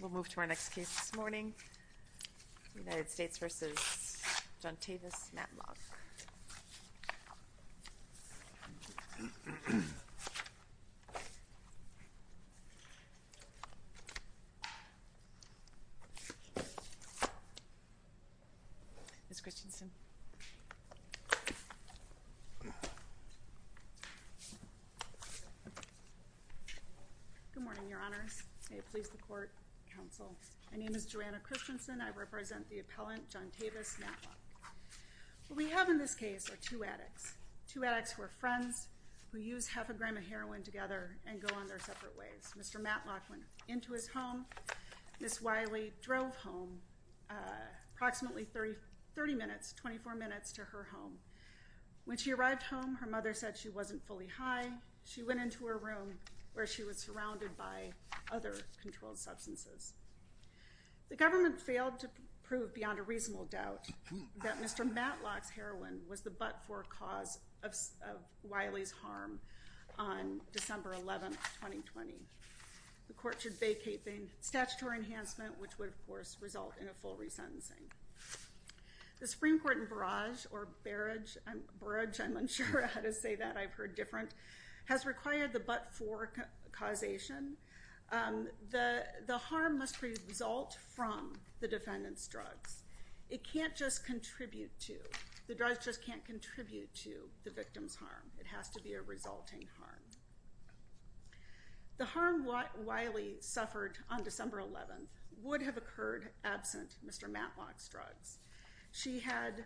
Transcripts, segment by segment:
We'll move to our next case this morning, United States v. Johntavis Matlock. Ms. Christensen. Good morning, your honors. May it please the court, counsel. My name is Joanna Christensen. I represent the appellant, Johntavis Matlock. What we have in this case are two addicts. Two addicts who are friends, who use half a gram of heroin together and go on their separate ways. Mr. Matlock went into his home. Ms. Wiley drove home approximately 30 minutes, 24 minutes to her home. When she arrived home, her mother said she wasn't fully high. She went into her room where she was surrounded by other controlled substances. The government failed to prove beyond a reasonable doubt that Mr. Matlock's heroin was the but-for cause of Wiley's harm on December 11, 2020. The court should vacate the statutory enhancement, which would, of course, result in a full resentencing. The Supreme Court in Barrage, or Barrage, I'm unsure how to say that. I've heard different, has required the but-for causation. The harm must result from the defendant's drugs. It can't just contribute to, the drugs just can't contribute to the victim's harm. It has to be a resulting harm. The harm Wiley suffered on December 11 would have occurred absent Mr. Matlock's drugs. She had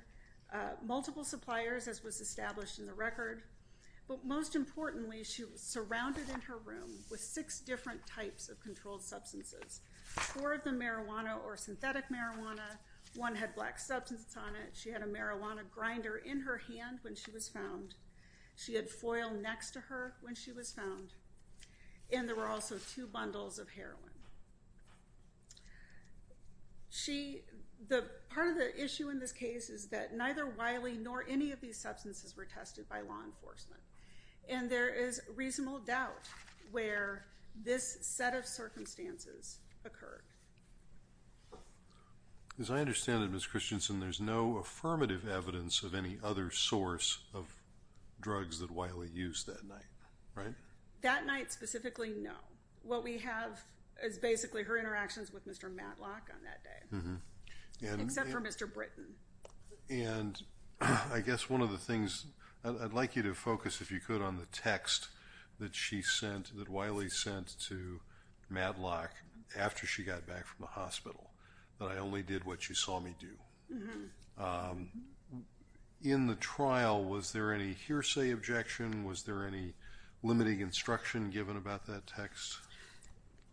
multiple suppliers, as was established in the record. But most importantly, she was surrounded in her room with six different types of controlled substances. Four of them marijuana or synthetic marijuana. One had black substances on it. She had a marijuana grinder in her hand when she was found. She had foil next to her when she was found. And there were also two bundles of heroin. She, the, part of the issue in this case is that neither Wiley nor any of these substances were tested by law enforcement. And there is reasonable doubt where this set of circumstances occurred. As I understand it, Ms. Christensen, there's no affirmative evidence of any other source of drugs that Wiley used that night, right? That night specifically, no. What we have is basically her interactions with Mr. Matlock on that day. Except for Mr. Britton. And I guess one of the things, I'd like you to focus if you could on the text that she sent, that Wiley sent to Matlock after she got back from the hospital. That I only did what she saw me do. In the trial, was there any hearsay objection? Was there any limiting instruction given about that text?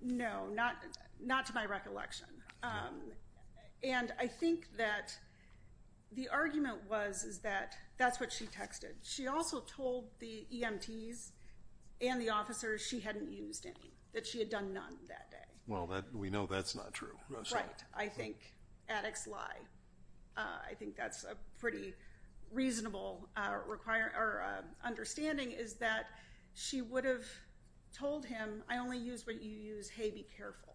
No, not to my recollection. And I think that the argument was that that's what she texted. She also told the EMTs and the officers she hadn't used any. That she had done none that day. Well, we know that's not true. Right. I think addicts lie. I think that's a pretty reasonable understanding is that she would have told him, I only use what you use. Hey, be careful.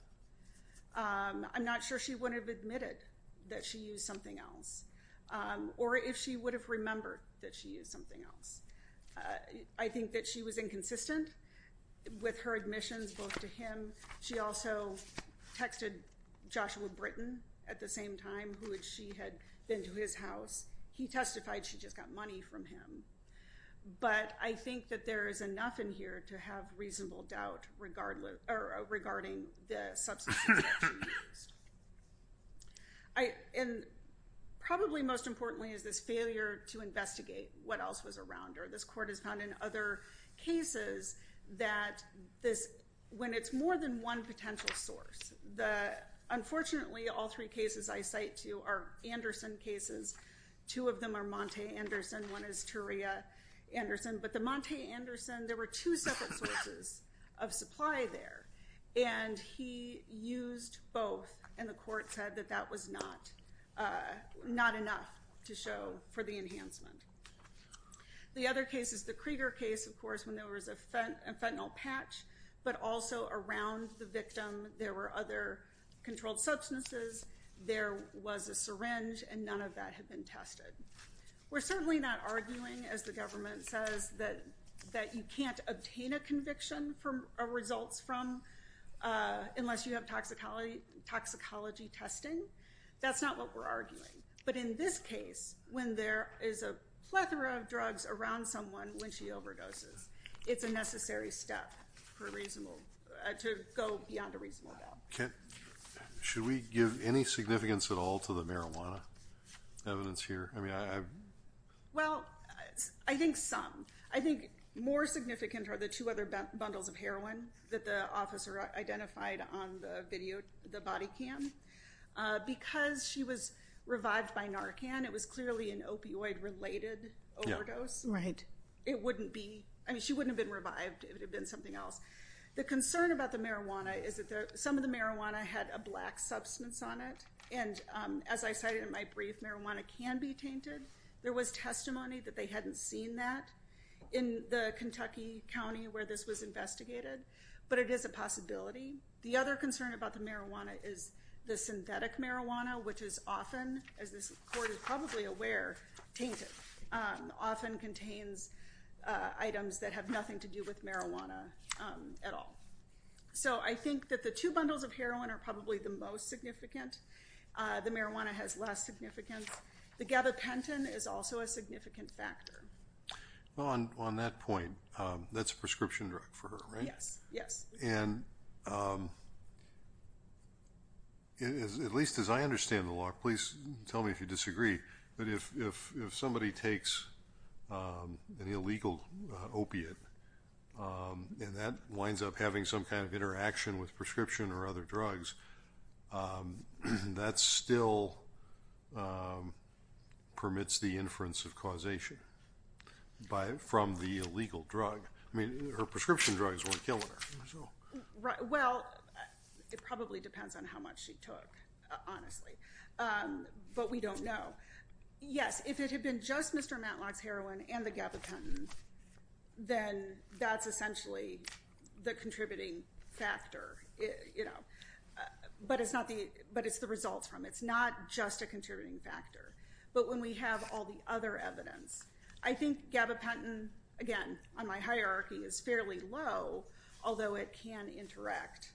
I'm not sure she would have admitted that she used something else. Or if she would have remembered that she used something else. I think that she was inconsistent with her admissions, both to him. She also texted Joshua Britton at the same time, who she had been to his house. He testified she just got money from him. But I think that there is enough in here to have reasonable doubt regarding the substances that she used. And probably most importantly is this failure to investigate what else was around her. This court has found in other cases that when it's more than one potential source. Unfortunately, all three cases I cite to you are Anderson cases. Two of them are Monte Anderson. One is Turia Anderson. But the Monte Anderson, there were two separate sources of supply there. And he used both. And the court said that that was not enough to show for the enhancement. The other case is the Krieger case, of course, when there was a fentanyl patch. But also around the victim there were other controlled substances. There was a syringe. And none of that had been tested. We're certainly not arguing, as the government says, that you can't obtain a conviction or results from unless you have toxicology testing. That's not what we're arguing. But in this case, when there is a plethora of drugs around someone when she overdoses, it's a necessary step to go beyond a reasonable doubt. Should we give any significance at all to the marijuana evidence here? Well, I think some. I think more significant are the two other bundles of heroin that the officer identified on the body cam. Because she was revived by Narcan, it was clearly an opioid-related overdose. It wouldn't be. I mean, she wouldn't have been revived if it had been something else. The concern about the marijuana is that some of the marijuana had a black substance on it. And as I cited in my brief, marijuana can be tainted. There was testimony that they hadn't seen that in the Kentucky county where this was investigated. But it is a possibility. The other concern about the marijuana is the synthetic marijuana, which is often, as this court is probably aware, tainted. Often contains items that have nothing to do with marijuana at all. So I think that the two bundles of heroin are probably the most significant. The marijuana has less significance. The gabapentin is also a significant factor. Well, on that point, that's a prescription drug for her, right? Yes, yes. And at least as I understand the law, please tell me if you disagree, but if somebody takes an illegal opiate and that winds up having some kind of interaction with prescription or other drugs, that still permits the inference of causation from the illegal drug. I mean, her prescription drugs weren't killing her. Well, it probably depends on how much she took, honestly. But we don't know. Yes, if it had been just Mr. Matlock's heroin and the gabapentin, then that's essentially the contributing factor. But it's the results from it. It's not just a contributing factor. But when we have all the other evidence, I think gabapentin, again, on my hierarchy, is fairly low, although it can interact.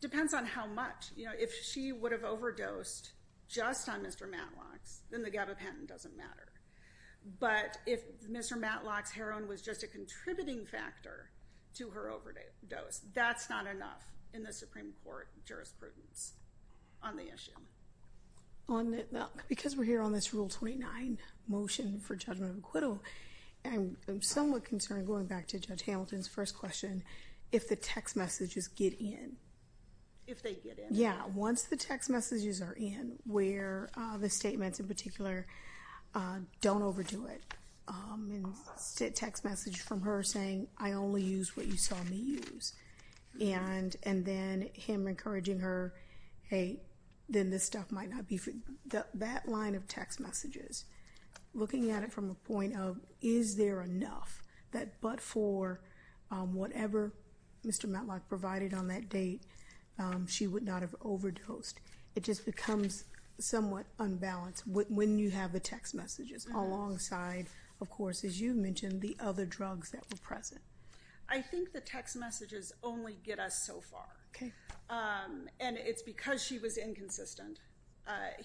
Depends on how much. You know, if she would have overdosed just on Mr. Matlock's, then the gabapentin doesn't matter. But if Mr. Matlock's heroin was just a contributing factor to her overdose, that's not enough in the Supreme Court jurisprudence on the issue. Because we're here on this Rule 29 motion for judgment of acquittal, I'm somewhat concerned, going back to Judge Hamilton's first question, if the text messages get in. If they get in? Yeah. Once the text messages are in, where the statements in particular don't overdo it. Text message from her saying, I only use what you saw me use. And then him encouraging her, hey, then this stuff might not be. That line of text messages, looking at it from a point of, is there enough? That but for whatever Mr. Matlock provided on that date, she would not have overdosed. It just becomes somewhat unbalanced when you have the text messages. Alongside, of course, as you mentioned, the other drugs that were present. I think the text messages only get us so far. And it's because she was inconsistent.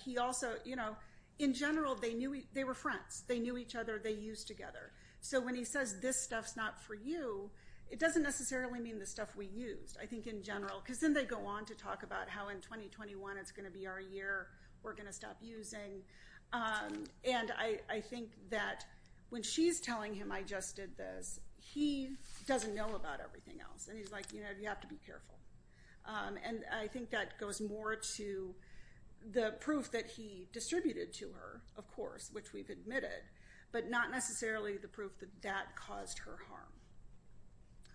He also, you know, in general, they were friends. They knew each other. They used together. So when he says, this stuff's not for you, it doesn't necessarily mean the stuff we used. I think in general, because then they go on to talk about how in 2021 it's going to be our year. We're going to stop using. And I think that when she's telling him I just did this, he doesn't know about everything else. And he's like, you know, you have to be careful. And I think that goes more to the proof that he distributed to her, of course, which we've admitted. But not necessarily the proof that that caused her harm.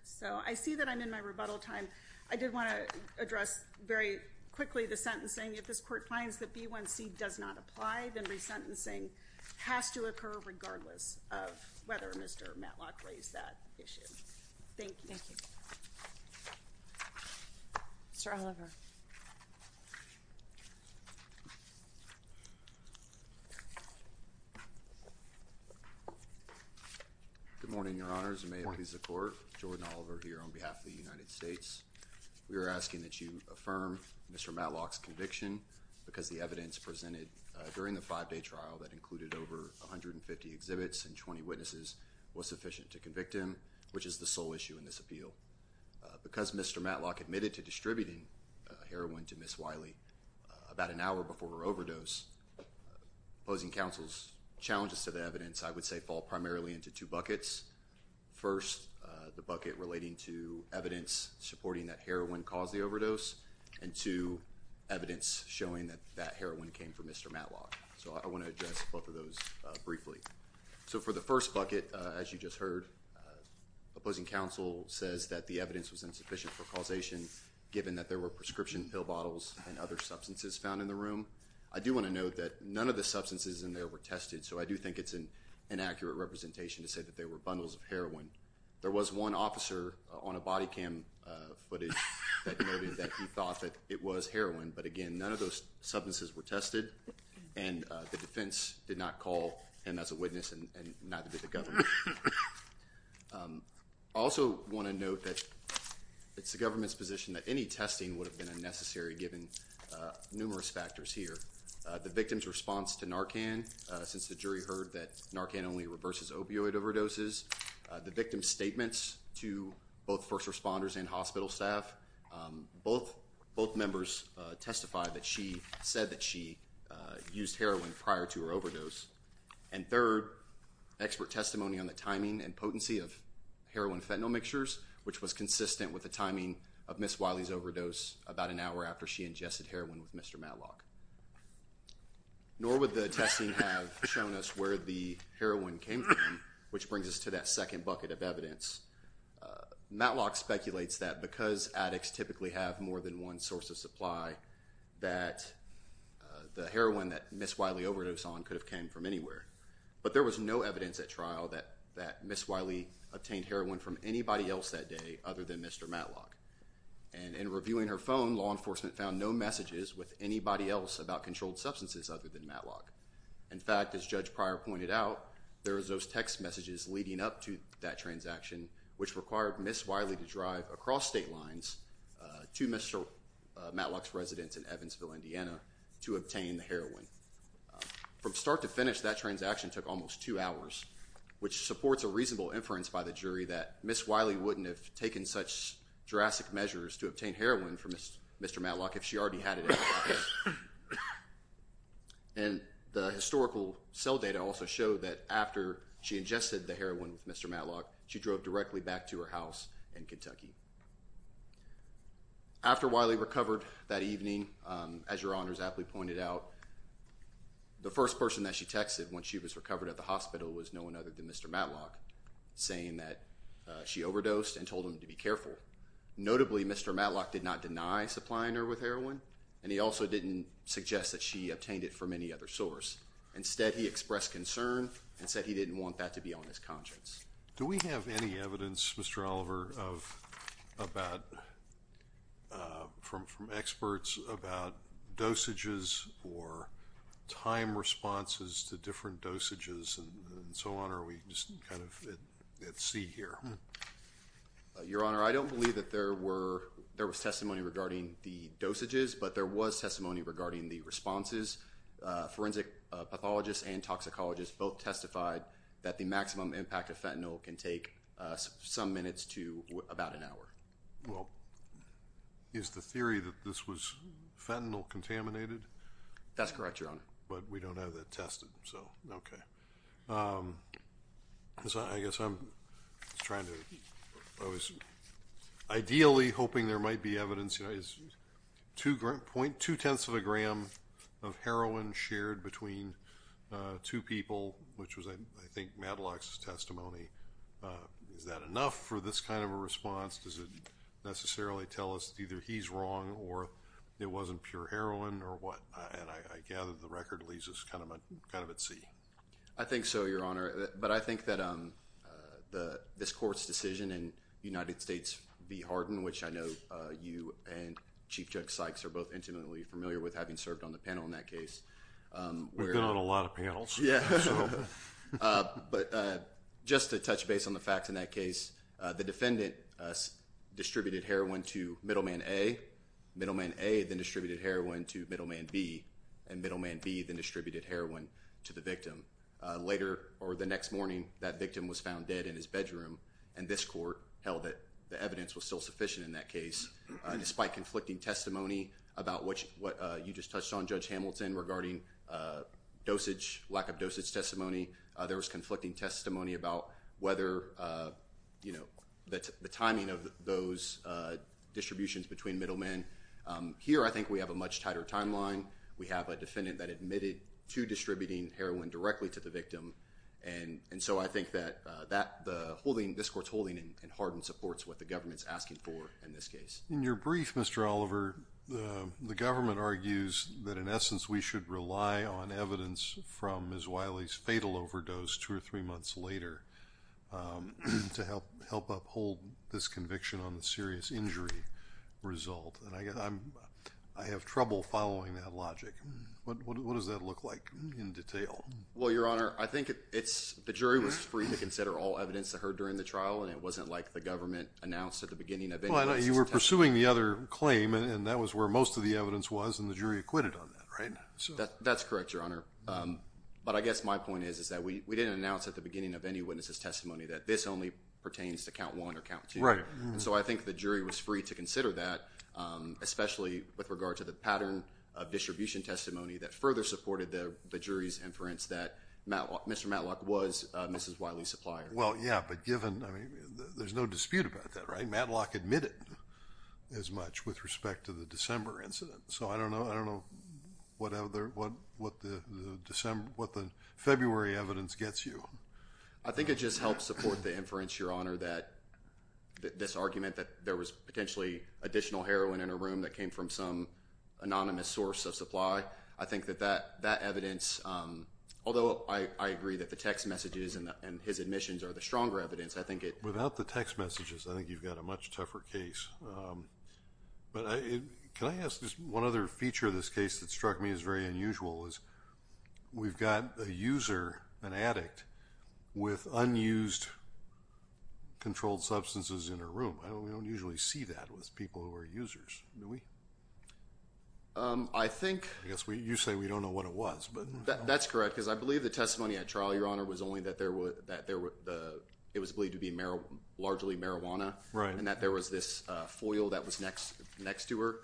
So I see that I'm in my rebuttal time. I did want to address very quickly the sentencing. If this court finds that B1C does not apply, then resentencing has to occur regardless of whether Mr. Matlock raised that issue. Thank you. Thank you. Mr. Oliver. Good morning, Your Honors. May it please the Court. Jordan Oliver here on behalf of the United States. We are asking that you affirm Mr. Matlock's conviction because the evidence presented during the five-day trial that included over 150 exhibits and 20 witnesses was sufficient to convict him, which is the sole issue in this appeal. Because Mr. Matlock admitted to distributing heroin to Ms. Wiley about an hour before her overdose, opposing counsel's challenges to the evidence, I would say, fall primarily into two buckets. First, the bucket relating to evidence supporting that heroin caused the overdose, and two, evidence showing that that heroin came from Mr. Matlock. So I want to address both of those briefly. So for the first bucket, as you just heard, opposing counsel says that the evidence was insufficient for causation given that there were prescription pill bottles and other substances found in the room. I do want to note that none of the substances in there were tested, so I do think it's an inaccurate representation to say that they were bundles of heroin. There was one officer on a body cam footage that noted that he thought that it was heroin, but again, none of those substances were tested, and the defense did not call him as a witness, and neither did the government. I also want to note that it's the government's position that any testing would have been unnecessary given numerous factors here. The victim's response to Narcan, since the jury heard that Narcan only reverses opioid overdoses. The victim's statements to both first responders and hospital staff. Both members testified that she said that she used heroin prior to her overdose. And third, expert testimony on the timing and potency of heroin-fentanyl mixtures, which was consistent with the timing of Ms. Wiley's overdose about an hour after she ingested heroin with Mr. Matlock. Nor would the testing have shown us where the heroin came from, which brings us to that second bucket of evidence. Matlock speculates that because addicts typically have more than one source of supply, that the heroin that Ms. Wiley overdosed on could have come from anywhere. But there was no evidence at trial that Ms. Wiley obtained heroin from anybody else that day other than Mr. Matlock. And in reviewing her phone, law enforcement found no messages with anybody else about controlled substances other than Matlock. In fact, as Judge Pryor pointed out, there was those text messages leading up to that transaction, which required Ms. Wiley to drive across state lines to Mr. Matlock's residence in Evansville, Indiana, to obtain the heroin. From start to finish, that transaction took almost two hours, which supports a reasonable inference by the jury that Ms. Wiley wouldn't have taken such drastic measures to obtain heroin from Mr. Matlock if she already had it in her office. And the historical cell data also showed that after she ingested the heroin with Mr. Matlock, she drove directly back to her house in Kentucky. After Wiley recovered that evening, as Your Honors aptly pointed out, the first person that she texted when she was recovered at the hospital was no one other than Mr. Matlock, saying that she overdosed and told him to be careful. Notably, Mr. Matlock did not deny supplying her with heroin, and he also didn't suggest that she obtained it from any other source. Instead, he expressed concern and said he didn't want that to be on his conscience. Do we have any evidence, Mr. Oliver, from experts about dosages or time responses to different dosages and so on, or are we just kind of at sea here? Your Honor, I don't believe that there was testimony regarding the dosages, but there was testimony regarding the responses. Forensic pathologists and toxicologists both testified that the maximum impact of fentanyl can take some minutes to about an hour. Well, is the theory that this was fentanyl contaminated? That's correct, Your Honor. But we don't have that tested, so, okay. I guess I'm trying to, I was ideally hoping there might be evidence. Point two-tenths of a gram of heroin shared between two people, which was, I think, Matlock's testimony. Is that enough for this kind of a response? Does it necessarily tell us either he's wrong or it wasn't pure heroin or what? And I gather the record leaves us kind of at sea. I think so, Your Honor. But I think that this court's decision in United States v. Hardin, which I know you and Chief Judge Sykes are both intimately familiar with having served on the panel in that case. We've been on a lot of panels. But just to touch base on the facts in that case, the defendant distributed heroin to middleman A, middleman A then distributed heroin to middleman B, and middleman B then distributed heroin to the victim. Later, or the next morning, that victim was found dead in his bedroom. And this court held that the evidence was still sufficient in that case. Despite conflicting testimony about what you just touched on, Judge Hamilton, regarding dosage, lack of dosage testimony, there was conflicting testimony about whether, you know, the timing of those distributions between middlemen. Here, I think we have a much tighter timeline. We have a defendant that admitted to distributing heroin directly to the victim. And so I think that the holding, this court's holding in Hardin supports what the government's asking for in this case. In your brief, Mr. Oliver, the government argues that, in essence, we should rely on evidence from Ms. Wiley's fatal overdose two or three months later to help uphold this conviction on the serious injury result. And I have trouble following that logic. What does that look like in detail? Well, Your Honor, I think the jury was free to consider all evidence they heard during the trial, and it wasn't like the government announced at the beginning of any witness' testimony. Well, you were pursuing the other claim, and that was where most of the evidence was, and the jury acquitted on that, right? That's correct, Your Honor. But I guess my point is that we didn't announce at the beginning of any witness' testimony that this only pertains to count one or count two. Right. And so I think the jury was free to consider that, especially with regard to the pattern of distribution testimony that further supported the jury's inference that Mr. Matlock was Ms. Wiley's supplier. Well, yeah, but given, I mean, there's no dispute about that, right? Matlock admitted as much with respect to the December incident. So I don't know what the February evidence gets you. I think it just helps support the inference, Your Honor, that this argument that there was potentially additional heroin in a room that came from some anonymous source of supply, I think that that evidence, although I agree that the text messages and his admissions are the stronger evidence, I think it – Without the text messages, I think you've got a much tougher case. But can I ask just one other feature of this case that struck me as very unusual is we've got a user, an addict, with unused controlled substances in her room. We don't usually see that with people who are users, do we? I think – I guess you say we don't know what it was, but – That's correct, because I believe the testimony at trial, Your Honor, was only that it was believed to be largely marijuana. Right. And that there was this foil that was next to her.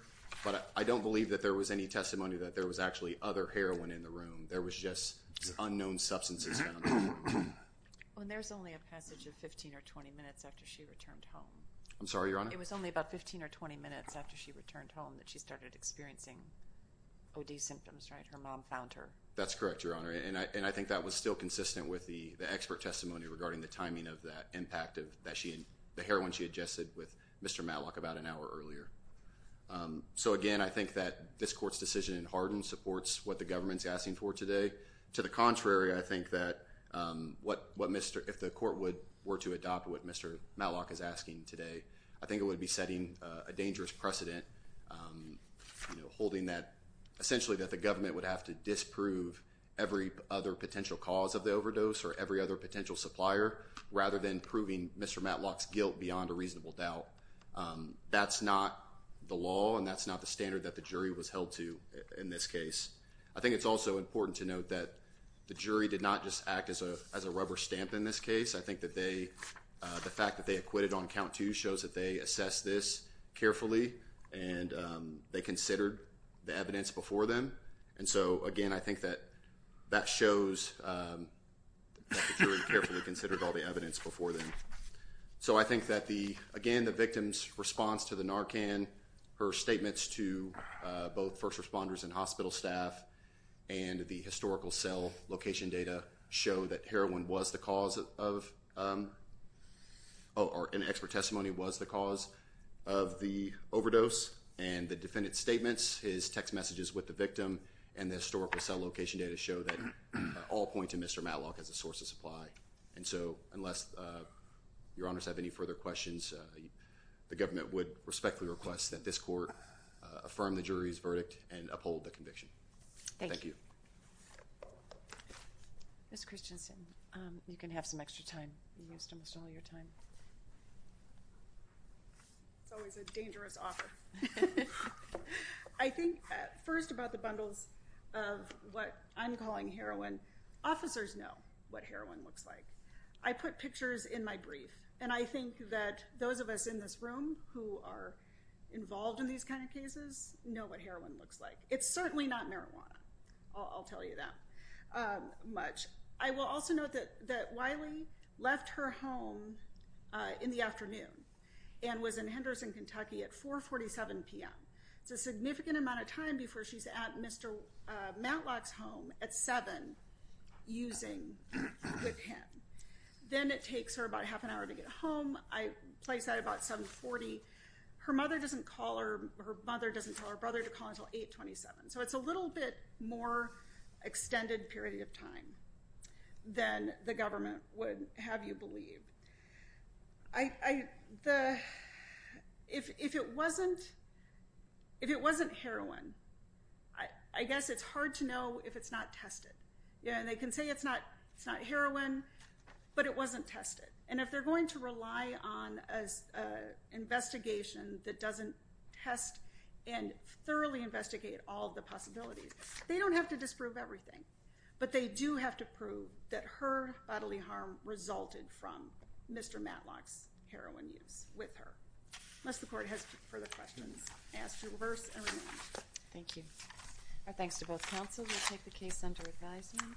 But I don't believe that there was any testimony that there was actually other heroin in the room. There was just unknown substances found in the room. And there's only a passage of 15 or 20 minutes after she returned home. I'm sorry, Your Honor? It was only about 15 or 20 minutes after she returned home that she started experiencing OD symptoms, right? Her mom found her. That's correct, Your Honor. And I think that was still consistent with the expert testimony regarding the timing of that impact of the heroin she adjusted with Mr. Matlock about an hour earlier. So, again, I think that this court's decision in Harden supports what the government's asking for today. To the contrary, I think that what Mr. – if the court were to adopt what Mr. Matlock is asking today, I think it would be setting a dangerous precedent, holding that – essentially that the government would have to disprove every other potential cause of the overdose or every other potential supplier rather than proving Mr. Matlock's guilt beyond a reasonable doubt. That's not the law, and that's not the standard that the jury was held to in this case. I think it's also important to note that the jury did not just act as a rubber stamp in this case. I think that they – the fact that they acquitted on count two shows that they assessed this carefully, and they considered the evidence before them. And so, again, I think that that shows that the jury carefully considered all the evidence before them. So I think that the – again, the victim's response to the Narcan, her statements to both first responders and hospital staff, and the historical cell location data show that heroin was the cause of – or an expert testimony was the cause of the overdose. And the defendant's statements, his text messages with the victim, and the historical cell location data show that all point to Mr. Matlock as a source of supply. And so, unless your honors have any further questions, the government would respectfully request that this court affirm the jury's verdict and uphold the conviction. Thank you. Ms. Christensen, you can have some extra time. You used almost all your time. It's always a dangerous offer. I think first about the bundles of what I'm calling heroin. Officers know what heroin looks like. I put pictures in my brief, and I think that those of us in this room who are involved in these kind of cases know what heroin looks like. It's certainly not marijuana. I'll tell you that much. I will also note that Wiley left her home in the afternoon and was in Henderson, Kentucky at 4.47 p.m. It's a significant amount of time before she's at Mr. Matlock's home at 7 using WIC HEN. Then it takes her about half an hour to get home. I place that at about 7.40. Her mother doesn't call her – her mother doesn't tell her brother to call until 8.27. So it's a little bit more extended period of time than the government would have you believe. If it wasn't heroin, I guess it's hard to know if it's not tested. They can say it's not heroin, but it wasn't tested. And if they're going to rely on an investigation that doesn't test and thoroughly investigate all the possibilities, they don't have to disprove everything. But they do have to prove that her bodily harm resulted from Mr. Matlock's heroin use with her. Unless the court has further questions, I ask you to reverse and remain. Thank you. Our thanks to both counsel. We'll take the case under advisement.